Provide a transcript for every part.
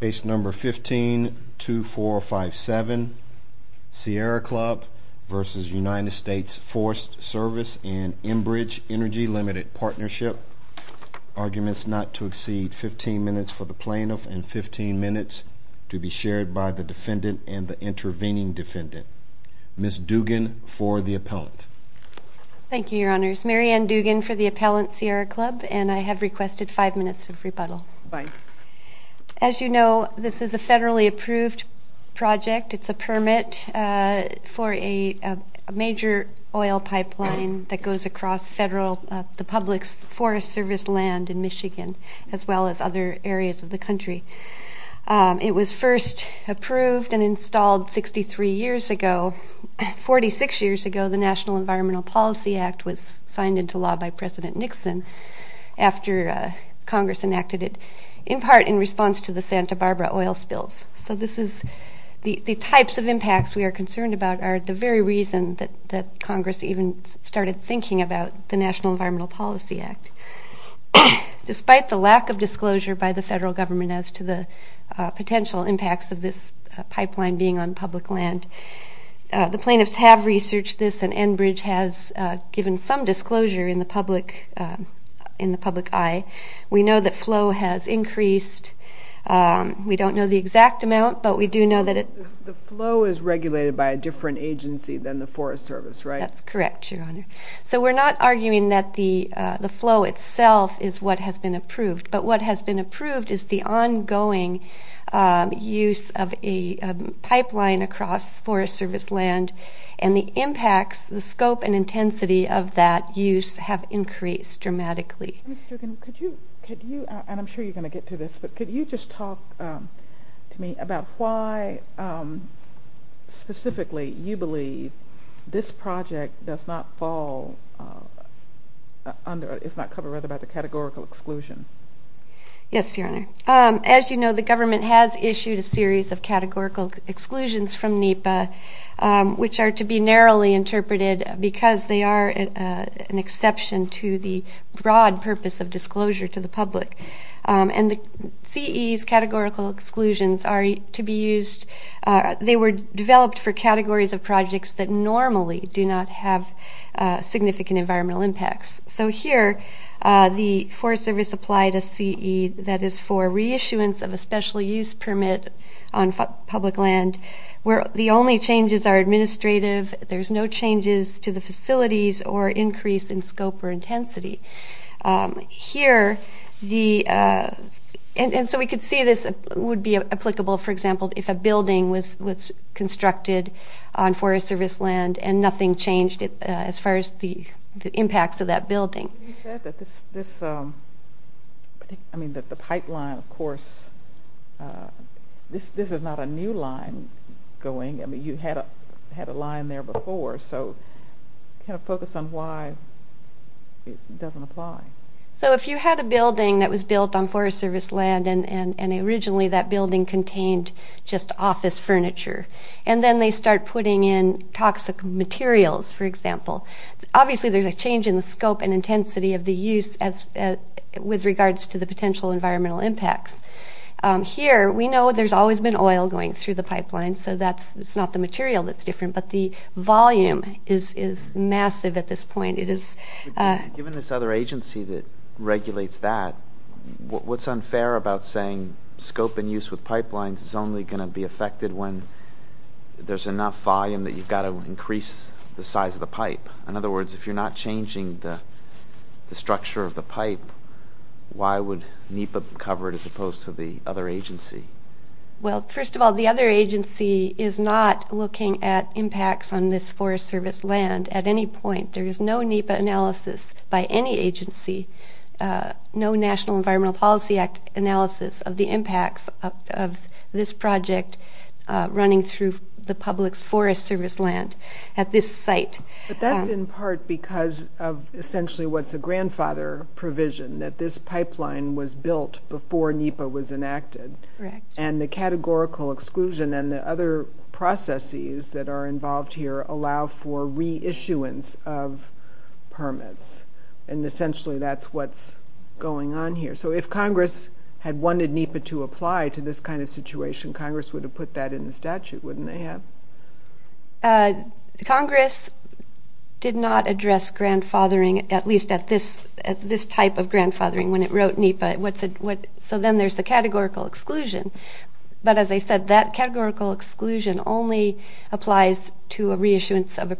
Case number 152457 Sierra Club v. United States Forest Service and Enbridge Energy Limited Partnership. Arguments not to exceed 15 minutes for the plaintiff and 15 minutes to be shared by the defendant and the intervening defendant. Ms. Dugan for the appellant. Thank You Your Honors. Mary Ann Dugan for the appellant Sierra Club and I have requested five minutes of rebuttal. As you know this is a federally approved project. It's a permit for a major oil pipeline that goes across federal the public's Forest Service land in Michigan as well as other areas of the country. It was first approved and installed 63 years ago. 46 years ago the National Environmental Policy Act was signed into law by President Nixon after Congress enacted it in part in response to the Santa Barbara oil spills. So this is the types of impacts we are concerned about are the very reason that that Congress even started thinking about the National Environmental Policy Act. Despite the lack of disclosure by the federal government as to the potential impacts of this pipeline being on public land, the plaintiffs have researched this and Enbridge has given some disclosure in the public in the public eye. We know that flow has increased. We don't know the exact amount but we do know that it the flow is regulated by a different agency than the Forest Service right? That's correct Your Honor. So we're not arguing that the the flow itself is what has been approved but what has been approved is the ongoing use of a pipeline across Forest Service land and the impacts, the scope and intensity of that use have increased dramatically. Ms. Duggan, could you, and I'm sure you're going to get to this, but could you just talk to me about why specifically you believe this project does not fall under, it's not covered rather by the categorical exclusion? Yes Your Honor. As you know the government has issued a series of categorical exclusions from NEPA which are to be narrowly interpreted because they are an exception to the broad purpose of disclosure to the public and the CE's categorical exclusions are to be used, they were developed for categories of projects that normally do not have significant environmental impacts. So here the Forest Service applied a CE that is for reissuance of a special use permit on public land where the only changes are administrative, there's no changes to the facilities or increase in scope or intensity. Here the, and so we could see this would be applicable for example if a building was constructed on Forest Service land and nothing changed as far as the impacts of that building. You said that this, I mean that the pipeline of course, this is not a new line going, I mean you had a line there before, so can you focus on why it doesn't apply? So if you had a building that was built on Forest Service land and originally that building contained just office furniture and then they start putting in toxic materials for example. Obviously there's a change in the scope and intensity of the use as, with regards to the potential environmental impacts. Here we know there's always been oil going through the pipeline so that's, it's not the material that's different but the volume is massive at this point. Given this other agency that regulates that, what's unfair about saying scope and use with pipelines is only going to be affected when there's enough volume that you've got to increase the size of the pipe. In other words, if you're not changing the structure of the pipe, why would NEPA cover it as opposed to the other agency? Well first of all, the other agency is not looking at impacts on this Forest Service land at any point. There is no NEPA analysis by any agency, no National Environmental Policy Act analysis of the impacts of this project running through the public's Forest Service land at this site. But that's in part because of essentially what's a grandfather provision, that this pipeline was built before NEPA was enacted. Correct. And the categorical exclusion and the other processes that are involved here allow for reissuance of permits and essentially that's what's going on here. So if Congress had wanted NEPA to apply to this kind of situation, Congress would have put that in the statute, wouldn't they have? Congress did not address grandfathering, at least at this, at this type of grandfathering when it wrote NEPA. What's it, what, so then there's the categorical exclusion. But as I said, that categorical exclusion only applies to a The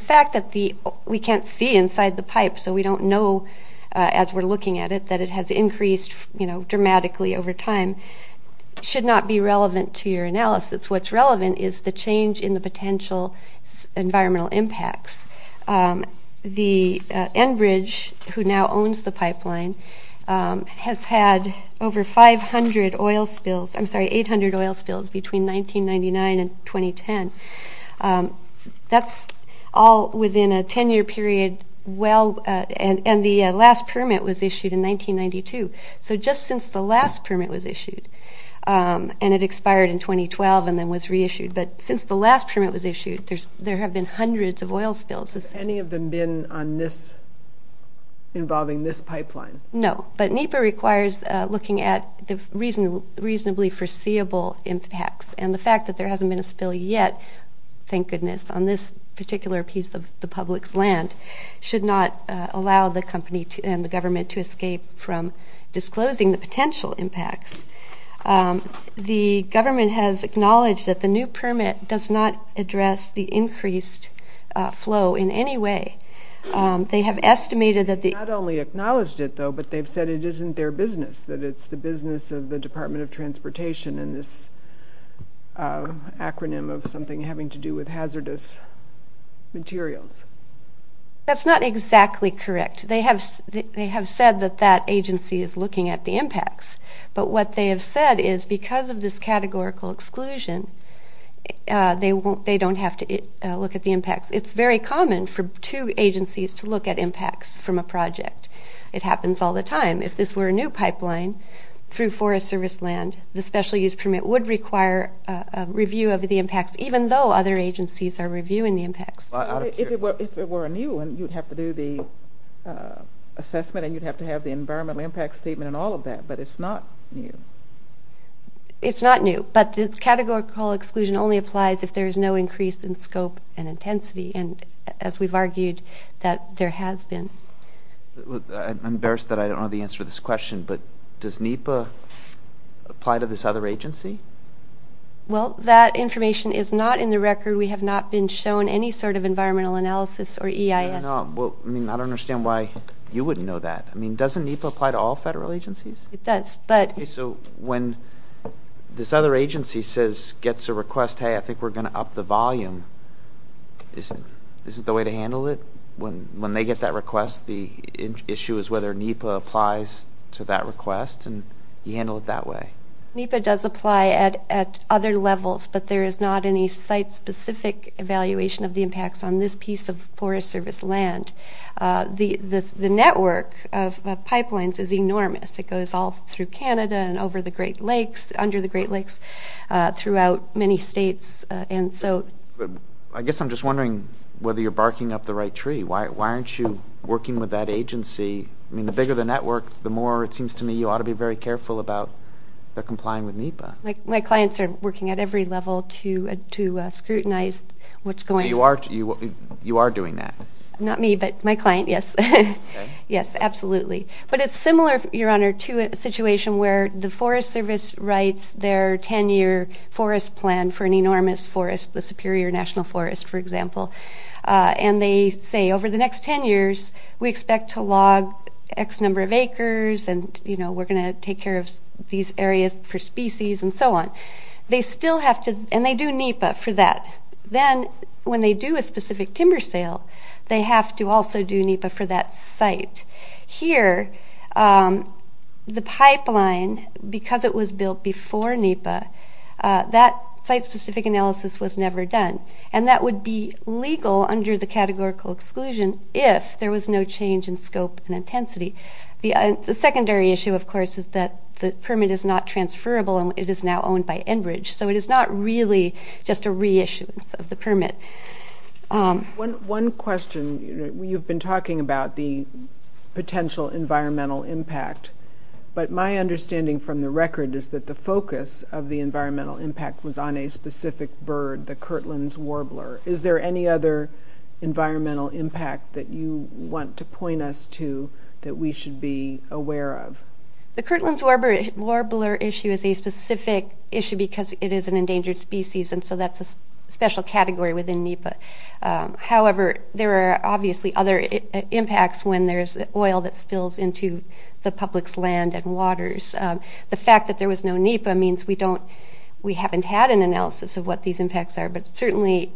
fact that the, we can't see inside the pipe, so we don't know as we're looking at it, that it has increased, you know, dramatically over time, should not be relevant to your analysis. What's relevant is the change in the potential environmental impacts. The Enbridge, who now owns the pipeline, has had over 500 oil spills, I'm sorry, 800 oil spills between 1999 and 2010. That's all within a 10-year period, well, and, and the last permit was issued in 1992. So just since the last permit was issued, and it expired in 2012 and then was reissued, but since the last permit was issued, there's, there have been hundreds of oil spills. Has any of them been on this, involving this pipeline? No, but NEPA requires looking at the reasonable, reasonably foreseeable impacts, and the fact that there hasn't been a spill yet, thank goodness, on this particular piece of the public's land, should not allow the company to, and the government to escape from disclosing the potential impacts. The government has acknowledged that the new permit does not address the increased flow in any way. They have their business, that it's the business of the Department of Transportation and this acronym of something having to do with hazardous materials. That's not exactly correct. They have, they have said that that agency is looking at the impacts, but what they have said is because of this categorical exclusion, they won't, they don't have to look at the impacts. It's very common for two agencies to look at impacts from a project. It happens all the time. If this were a new pipeline through Forest Service land, the special-use permit would require a review of the impacts, even though other agencies are reviewing the impacts. If it were a new one, you'd have to do the assessment and you'd have to have the environmental impact statement and all of that, but it's not new. It's not new, but the categorical exclusion only applies if there's no increase in scope and intensity, and as we've argued, that there has been. I'm but does NEPA apply to this other agency? Well, that information is not in the record. We have not been shown any sort of environmental analysis or EIS. Well, I mean, I don't understand why you wouldn't know that. I mean, doesn't NEPA apply to all federal agencies? It does, but... So when this other agency says, gets a request, hey, I think we're going to up the volume, is it, is it the way to handle it when they get that request? The issue is whether NEPA applies to that request and you handle it that way. NEPA does apply at other levels, but there is not any site-specific evaluation of the impacts on this piece of Forest Service land. The network of pipelines is enormous. It goes all through Canada and over the Great Lakes, under the Great Lakes, throughout many states, and so... I guess I'm just wondering whether you're barking up the right tree. Why aren't you working with that agency? I mean, the bigger the network, the more it seems to me you ought to be very careful about their complying with NEPA. My clients are working at every level to scrutinize what's going on. You are, you are doing that? Not me, but my client, yes. Yes, absolutely. But it's similar, Your Honor, to a situation where the Forest Service writes their 10-year forest plan for an enormous forest, the Superior National Forest, for example, and they say over the next 10 years we expect to log X number of acres and, you know, we're going to take care of these areas for species and so on. They still have to, and they do NEPA for that. Then, when they do a specific timber sale, they have to also do NEPA for that site. Here, the pipeline, because it was built before NEPA, that site-specific analysis was never done, and that would be legal under the categorical exclusion if there was no change in scope and intensity. The secondary issue, of course, is that the permit is not transferable and it is now owned by Enbridge, so it is not really just a reissuance of the permit. One question, you've been talking about the potential environmental impact, but my understanding from the record is that the focus of the environmental impact was on a specific bird, the Kirtland's warbler. Is there any other environmental impact that you want to point us to that we should be aware of? The Kirtland's warbler issue is a specific issue because it is an endangered species and so that's a special category within NEPA. However, there are obviously other impacts when there's oil that spills into the public's land and waters. The fact that there was no NEPA means we haven't had an analysis of what these impacts are, but certainly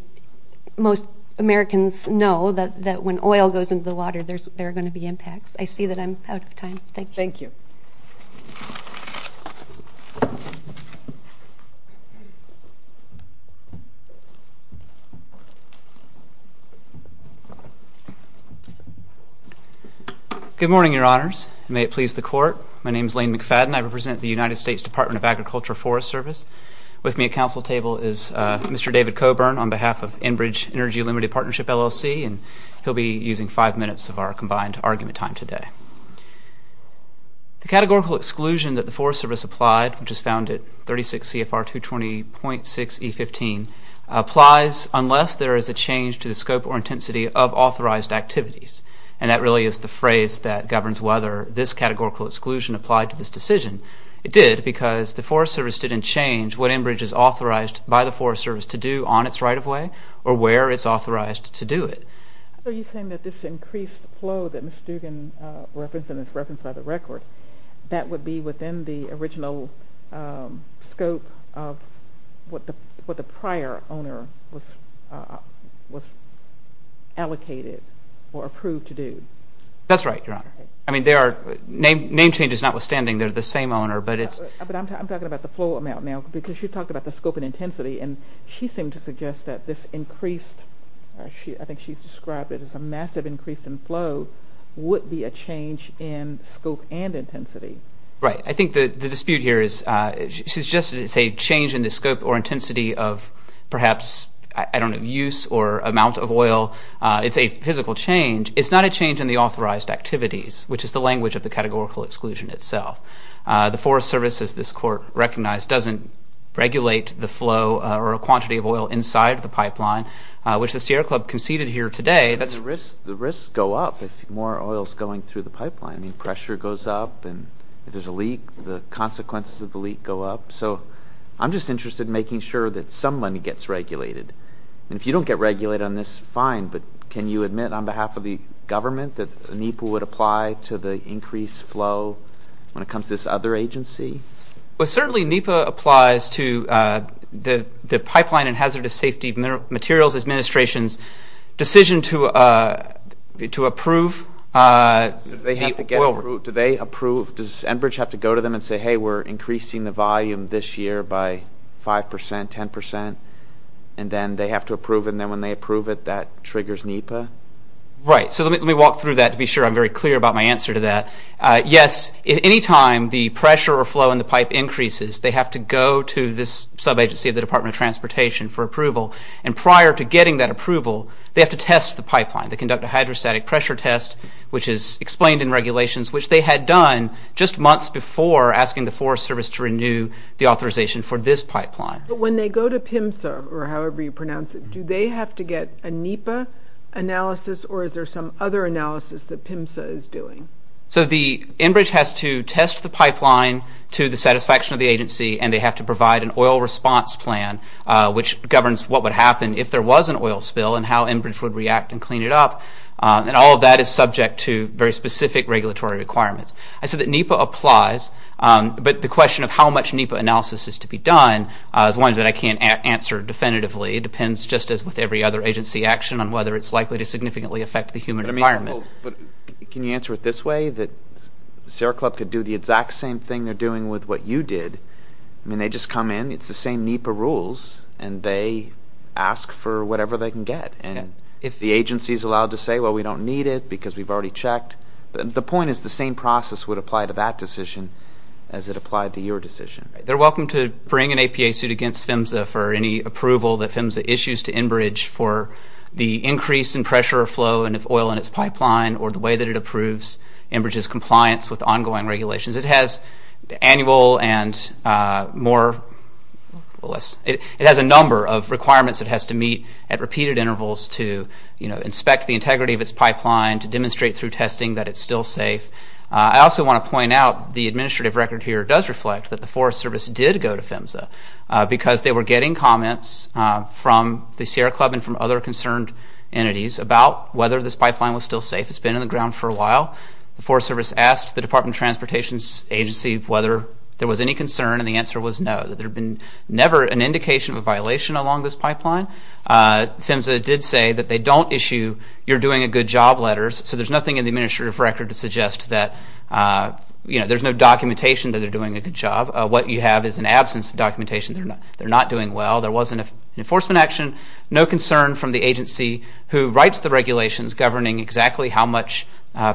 most Americans know that when oil goes into the water, there are going to be impacts. I see that I'm out of time. Thank you. Thank you. Good morning, Your Honors. May it please the Court. My name is Lane McFadden. I represent the United States Department of Agriculture Forest Service. With me at council table is Mr. David Coburn on behalf of Enbridge Energy Limited Partnership, LLC, and he'll be using five minutes of our combined argument time today. The categorical exclusion that the Forest Service applied, which is found at 36 CFR 220.6E15, applies unless there is a change to the scope or intensity of authorized activities, and that really is the phrase that governs whether this categorical exclusion applied to this decision. It did because the Forest Service didn't change what Enbridge is authorized by the Forest Service to do on its right-of-way or where it's authorized to do it. So you're saying that this increased flow that Ms. Stugan referenced and is referenced by the record, that would be within the original scope of what the prior owner was allocated or approved to do? That's right, Your Honor. I mean, there are name changes notwithstanding. They're the same owner, but it's... But I'm talking about the flow amount now, because you talked about the scope and intensity, and she seemed to suggest that this increased, I think she's described it as a massive increase in flow, would be a change in scope and intensity. Right. I think that the dispute here is, she suggested it's a change in the scope or perhaps, I don't know, use or amount of oil. It's a physical change. It's not a change in the authorized activities, which is the language of the categorical exclusion itself. The Forest Service, as this Court recognized, doesn't regulate the flow or a quantity of oil inside the pipeline, which the Sierra Club conceded here today. The risks go up if more oil is going through the pipeline. I mean, pressure goes up, and if there's a leak, the consequences of the leak go up. So I'm just interested in making sure that someone gets regulated. And if you don't get regulated on this, fine, but can you admit on behalf of the government that NEPA would apply to the increased flow when it comes to this other agency? Well, certainly NEPA applies to the Pipeline and Hazardous Safety Materials Administration's decision to approve... Do they approve? Does Enbridge have to go to them and say, hey, we're increasing the volume this year by five percent, ten percent, and then they have to approve, and then when they approve it, that triggers NEPA? Right, so let me walk through that to be sure I'm very clear about my answer to that. Yes, at any time the pressure or flow in the pipe increases, they have to go to this sub-agency of the Department of Transportation for approval, and prior to getting that approval, they have to test the pipeline. They conduct a hydrostatic pressure test, which is explained in asking the Forest Service to renew the authorization for this pipeline. But when they go to PIMSA, or however you pronounce it, do they have to get a NEPA analysis, or is there some other analysis that PIMSA is doing? So the Enbridge has to test the pipeline to the satisfaction of the agency, and they have to provide an oil response plan, which governs what would happen if there was an oil spill, and how Enbridge would react and clean it up, and all of that is applies. But the question of how much NEPA analysis is to be done is one that I can't answer definitively. It depends just as with every other agency action on whether it's likely to significantly affect the human environment. Can you answer it this way, that Sierra Club could do the exact same thing they're doing with what you did, I mean they just come in, it's the same NEPA rules, and they ask for whatever they can get, and if the agency is allowed to say, well we don't need it because we've already checked, the point is the same process would apply to that decision as it applied to your decision. They're welcome to bring an APA suit against PIMSA for any approval that PIMSA issues to Enbridge for the increase in pressure flow and if oil in its pipeline, or the way that it approves Enbridge's compliance with ongoing regulations. It has the annual and more, well less, it has a number of requirements it has to meet at repeated intervals to, you know, inspect the integrity of its pipeline, to want to point out the administrative record here does reflect that the Forest Service did go to PIMSA because they were getting comments from the Sierra Club and from other concerned entities about whether this pipeline was still safe. It's been in the ground for a while. The Forest Service asked the Department of Transportation's agency whether there was any concern and the answer was no, that there had been never an indication of a violation along this pipeline. PIMSA did say that they don't issue you're doing a good job letters, so there's nothing in the administrative record to suggest that, you know, there's no documentation that they're doing a good job. What you have is an absence of documentation. They're not doing well. There wasn't an enforcement action. No concern from the agency who writes the regulations governing exactly how much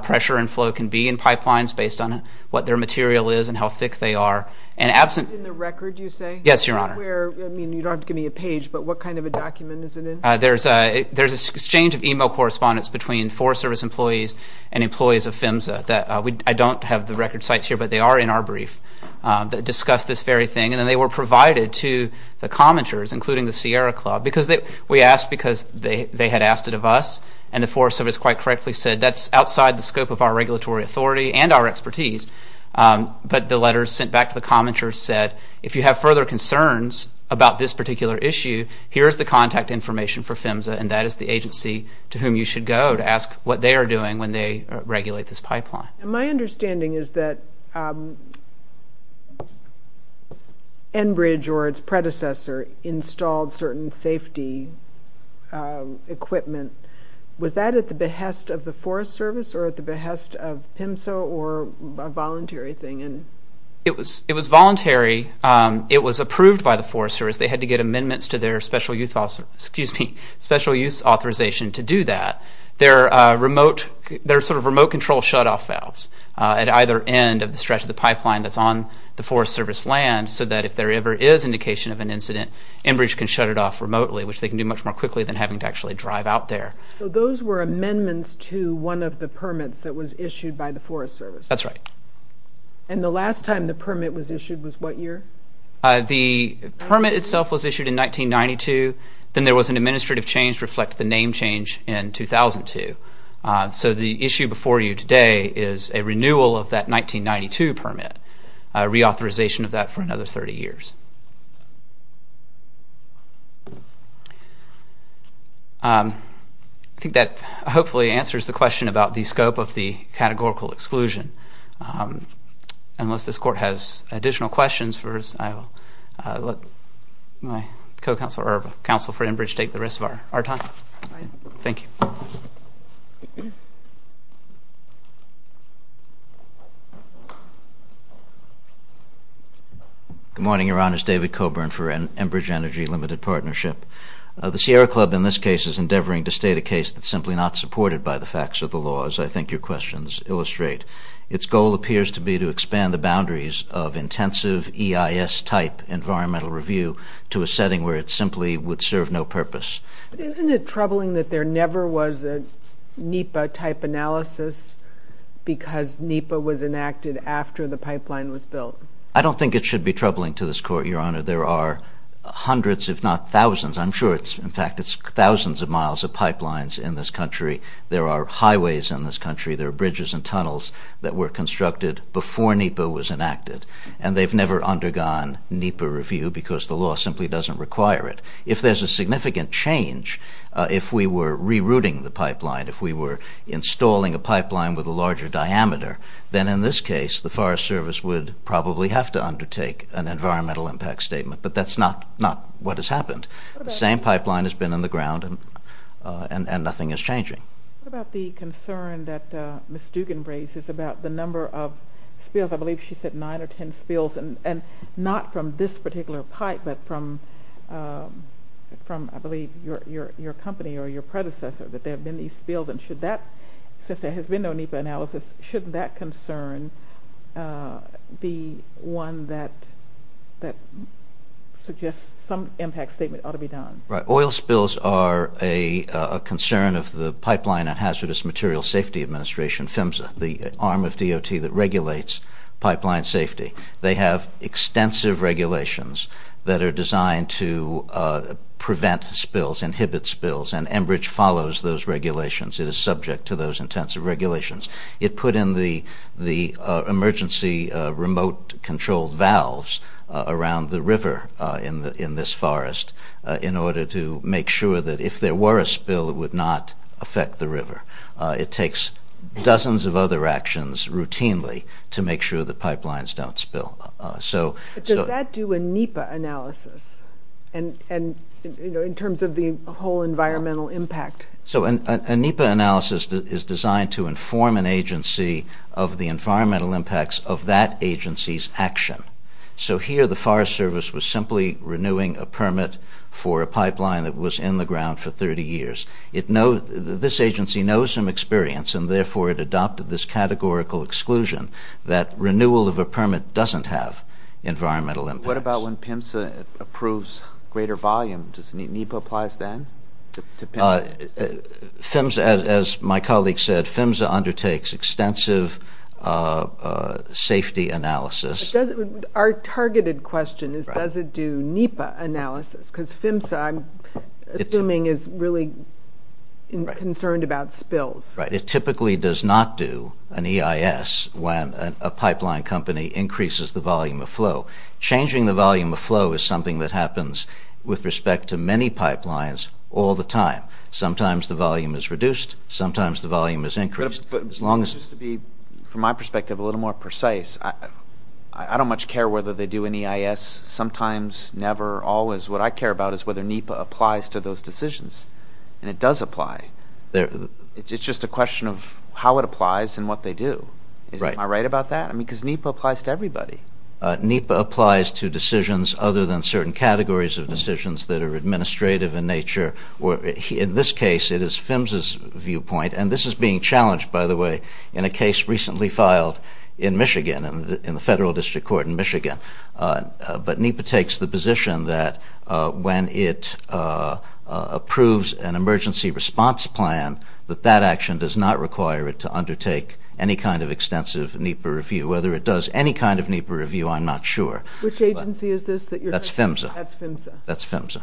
pressure and flow can be in pipelines based on what their material is and how thick they are. And absent... Is this in the record, you say? Yes, your honor. Where, I mean, you don't have to give me a page, but what kind of a document is it in? There's a, there's an exchange of email correspondence between Forest Service employees and employees of PIMSA that we, I don't have the record sites here, but they are in our brief, that discussed this very thing and then they were provided to the commenters, including the Sierra Club, because they, we asked because they they had asked it of us and the Forest Service quite correctly said that's outside the scope of our regulatory authority and our expertise, but the letters sent back to the commenters said, if you have further concerns about this particular issue, here's the contact information for PIMSA and that is the agency to whom you should go to ask what they are doing when they regulate this pipeline. My understanding is that Enbridge or its predecessor installed certain safety equipment. Was that at the behest of the Forest Service or at the behest of PIMSA or a voluntary thing? It was, it was voluntary. It was approved by the Forest Service. They had to get special use authorization to do that. There are remote, there are sort of remote control shutoff valves at either end of the stretch of the pipeline that's on the Forest Service land, so that if there ever is indication of an incident, Enbridge can shut it off remotely, which they can do much more quickly than having to actually drive out there. So those were amendments to one of the permits that was issued by the Forest Service? That's right. And the last time the permit was issued was what year? The permit itself was issued in 1992. Then there was an administrative change to reflect the name change in 2002. So the issue before you today is a renewal of that 1992 permit, a reauthorization of that for another 30 years. I think that hopefully answers the question about the scope of the questions. I will let my co-counsel or counsel for Enbridge take the rest of our time. Thank you. Good morning, Your Honor. It's David Coburn for Enbridge Energy Limited Partnership. The Sierra Club in this case is endeavoring to state a case that's simply not supported by the facts of the law, as I think your questions illustrate. Its goal appears to be to expand the boundaries of intensive EIS-type environmental review to a setting where it simply would serve no purpose. Isn't it troubling that there never was a NEPA-type analysis because NEPA was enacted after the pipeline was built? I don't think it should be troubling to this Court, Your Honor. There are hundreds, if not thousands, I'm sure it's in fact it's thousands of miles of pipelines in this country. There are highways in this country. There are rivers that were constructed before NEPA was enacted and they've never undergone NEPA review because the law simply doesn't require it. If there's a significant change, if we were rerouting the pipeline, if we were installing a pipeline with a larger diameter, then in this case the Forest Service would probably have to undertake an environmental impact statement. But that's not what has happened. The same pipeline has been in the ground and nothing is changing. What about the concern that Ms. Dugan raises about the number of spills? I believe she said nine or ten spills and not from this particular pipe but from I believe your company or your predecessor that there have been these spills and should that, since there has been no NEPA analysis, shouldn't that concern be one that suggests some impact statement ought to be done? Oil spills are a concern of the Pipeline and Hazardous Materials Safety Administration, PHMSA, the arm of DOT that regulates pipeline safety. They have extensive regulations that are designed to prevent spills, inhibit spills and Enbridge follows those regulations. It is subject to those intensive regulations. It put in the emergency remote controlled valves around the river in this forest in order to make sure that if there were a spill it would not affect the river. It takes dozens of other actions routinely to make sure the pipelines don't spill. Does that do a NEPA analysis in terms of the whole environmental impact? A NEPA analysis is designed to inform an agency of the environmental impacts of that agency's action. So here the Forest Service was simply renewing a permit for a pipeline that was in the ground for 30 years. This agency knows some experience and therefore it adopted this categorical exclusion that renewal of a permit doesn't have environmental impacts. What about when PHMSA approves greater volume? Does NEPA applies then? PHMSA, as my colleague said, PHMSA undertakes extensive safety analysis. Our targeted question is does it do NEPA analysis? Because PHMSA I'm assuming is really concerned about spills. Right. It typically does not do an EIS when a pipeline company increases the volume of flow. Changing the volume of flow is something that happens with time. Sometimes the volume is reduced. Sometimes the volume is increased. But just to be from my perspective a little more precise, I don't much care whether they do an EIS. Sometimes, never, always. What I care about is whether NEPA applies to those decisions. And it does apply. It's just a question of how it applies and what they do. Am I right about that? Because NEPA applies to everybody. NEPA applies to decisions other than certain categories of decisions that are in this case it is PHMSA's viewpoint. And this is being challenged, by the way, in a case recently filed in Michigan, in the Federal District Court in Michigan. But NEPA takes the position that when it approves an emergency response plan that that action does not require it to undertake any kind of extensive NEPA review. Whether it does any kind of NEPA review I'm not sure. Which agency is this that you're talking about? That's PHMSA. That's PHMSA. That's PHMSA.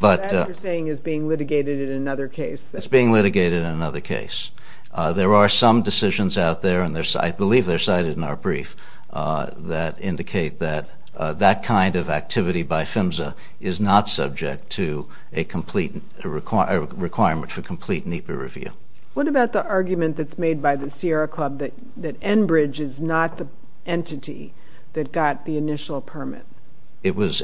That you're saying is being litigated in another case? It's being litigated in another case. There are some decisions out there, and I believe they're cited in our brief, that indicate that that kind of activity by PHMSA is not subject to a requirement for complete NEPA review. What about the argument that's made by the Sierra Club that Enbridge is not the entity that got the initial permit? It was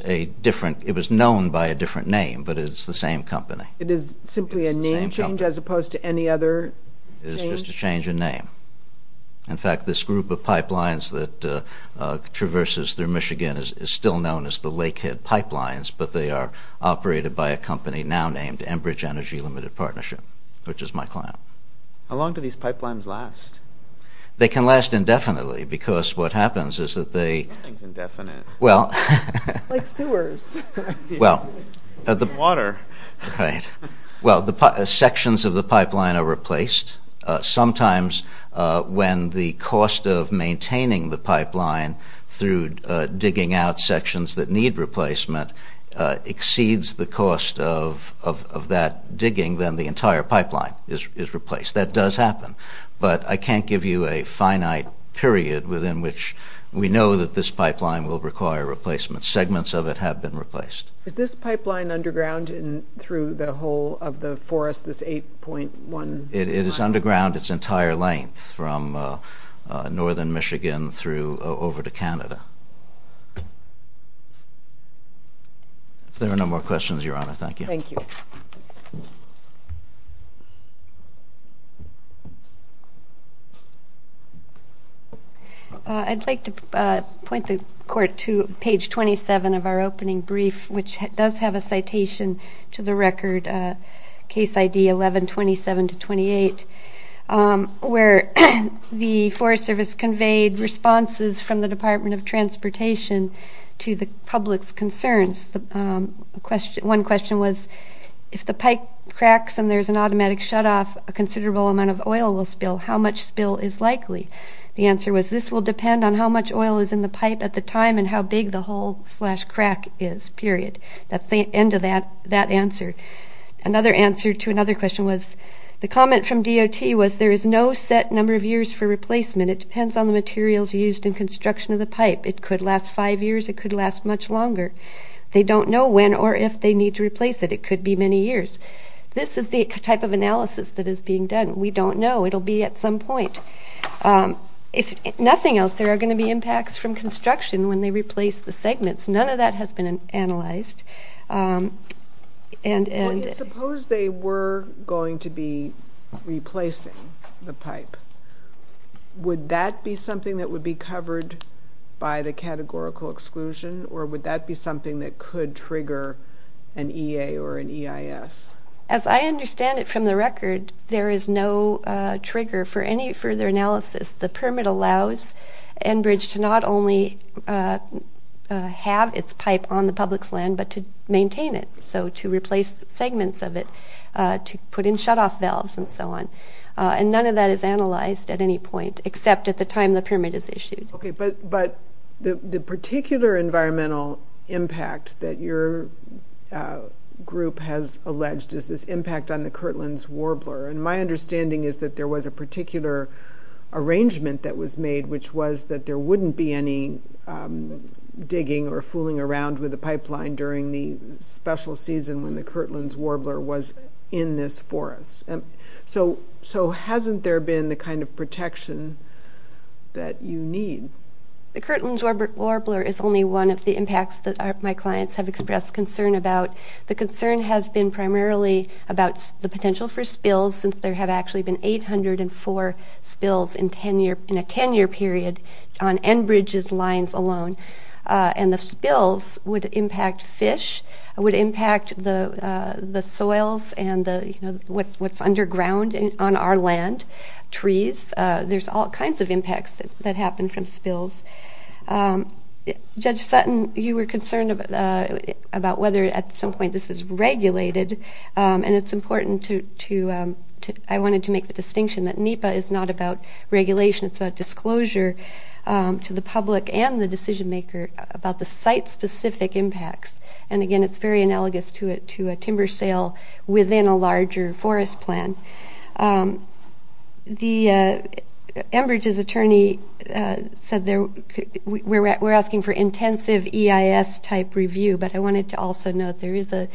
known by a different name, but it's the same company. It is simply a name change as opposed to any other change? It is just a change in name. In fact, this group of pipelines that traverses through Michigan is still known as the Lakehead Pipelines, but they are operated by a company now named Enbridge Energy Limited Partnership, which is my client. How long do these pipelines last? They can last indefinitely, because what happens is that they Nothing's indefinite. Like sewers. Water. Sections of the pipeline are replaced. Sometimes when the cost of maintaining the pipeline through digging out sections that need replacement exceeds the cost of that digging, then the entire pipeline is replaced. That does happen. But I can't give you a finite period within which we know that this pipeline will require replacement. Segments of it have been replaced. Is this pipeline underground through the whole of the forest, this 8.1? It is underground its entire length from northern Michigan over to Canada. If there are no more questions, Your Honor, thank you. Thank you. Thank you. I'd like to point the Court to page 27 of our opening brief, which does have a citation to the record, Case ID 11-27-28, where the Forest Service conveyed responses from the Department of Transportation to the public's concerns. One question was, if the pipe cracks and there's an automatic shutoff, a considerable amount of oil will spill. How much spill is likely? The answer was, this will depend on how much oil is in the pipe at the time and how big the hole-slash-crack is, period. That's the end of that answer. Another answer to another question was, the comment from DOT was, there is no set number of years for replacement. It depends on the materials used in construction of the pipe. It could last five years. It could last much longer. They don't know when or if they need to replace it. It could be many years. This is the type of analysis that is being done. We don't know. It will be at some point. If nothing else, there are going to be impacts from construction when they replace the segments. None of that has been analyzed. Suppose they were going to be replacing the pipe. Would that be something that would be covered by the categorical exclusion, or would that be something that could trigger an EA or an EIS? As I understand it from the record, there is no trigger for any further analysis. The permit allows Enbridge to not only have its pipe on the public's land, but to maintain it, so to replace segments of it, to put in shutoff valves and so on. And none of that is analyzed at any point, except at the time the permit is issued. Okay, but the particular environmental impact that your group has alleged is this impact on the Kirtland's Warbler. My understanding is that there was a particular arrangement that was made, which was that there wouldn't be any digging or fooling around with a pipeline during the special season when the Kirtland's Warbler was in this forest. So hasn't there been the kind of protection that you need? The Kirtland's Warbler is only one of the impacts that my clients have expressed concern about. The concern has been primarily about the potential for spills, since there have actually been 804 spills in a 10-year period on Enbridge's lines alone. And the spills would impact fish, would impact the soils and what's underground on our land, trees. There's all kinds of impacts that happen from spills. Judge Sutton, you were concerned about whether at some point this is regulated, and it's important to – I wanted to make the distinction that NEPA is not about regulation. It's about disclosure to the public and the decision-maker about the site-specific impacts. And again, it's very analogous to a timber sale within a larger forest plan. The Enbridge's attorney said we're asking for intensive EIS-type review, but I wanted to also note there is a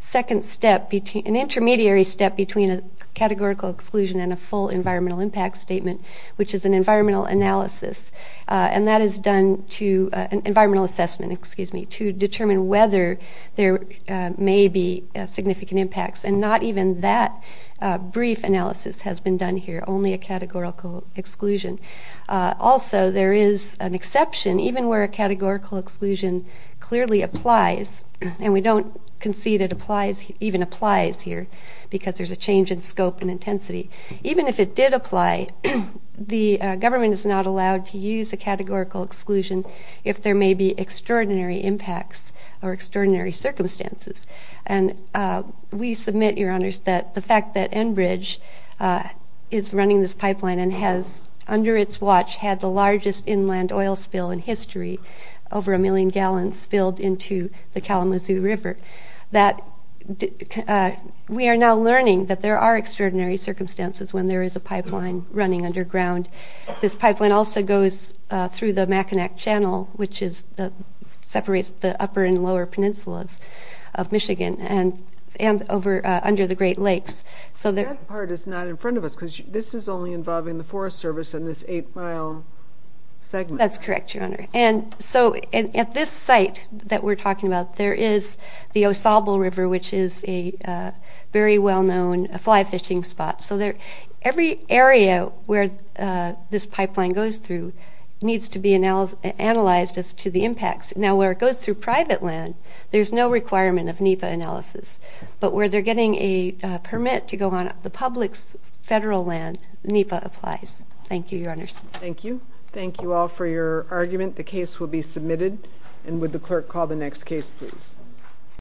second step between – an intermediary step between a categorical exclusion and a full environmental impact statement, which is an environmental analysis. And that is done to – environmental assessment, excuse me, to determine whether there may be significant impacts. And not even that brief analysis has been done here, only a categorical exclusion. Also, there is an exception, even where a categorical exclusion clearly applies, and we don't concede it applies – even applies here, because there's a change in scope and intensity. Even if it did apply, the government is not allowed to use a categorical exclusion if there may be extraordinary impacts or extraordinary circumstances. And we submit, Your Honors, that the fact that Enbridge is running this pipeline and has, under its watch, had the largest inland oil spill in history, over a million gallons spilled into the Kalamazoo River, that we are now learning that there are extraordinary circumstances when there is a pipeline running underground. This pipeline also goes through the Mackinac Channel, which is – separates the upper and lower peninsulas of Michigan and over – under the Great Lakes, so that – That part is not in front of us, because this is only involving the Forest Service and this 8-mile segment. That's correct, Your Honor. And so, at this site that we're talking about, there is the Osobel River, which is a very well-known fly-fishing spot. So every area where this pipeline goes through needs to be analyzed as to the impacts. Now, where it goes through private land, there's no requirement of NEPA analysis. But where they're getting a permit to go on the public's federal land, NEPA applies. Thank you, Your Honors. Thank you. Thank you all for your argument. The case will be submitted. And would the clerk call the next case, please.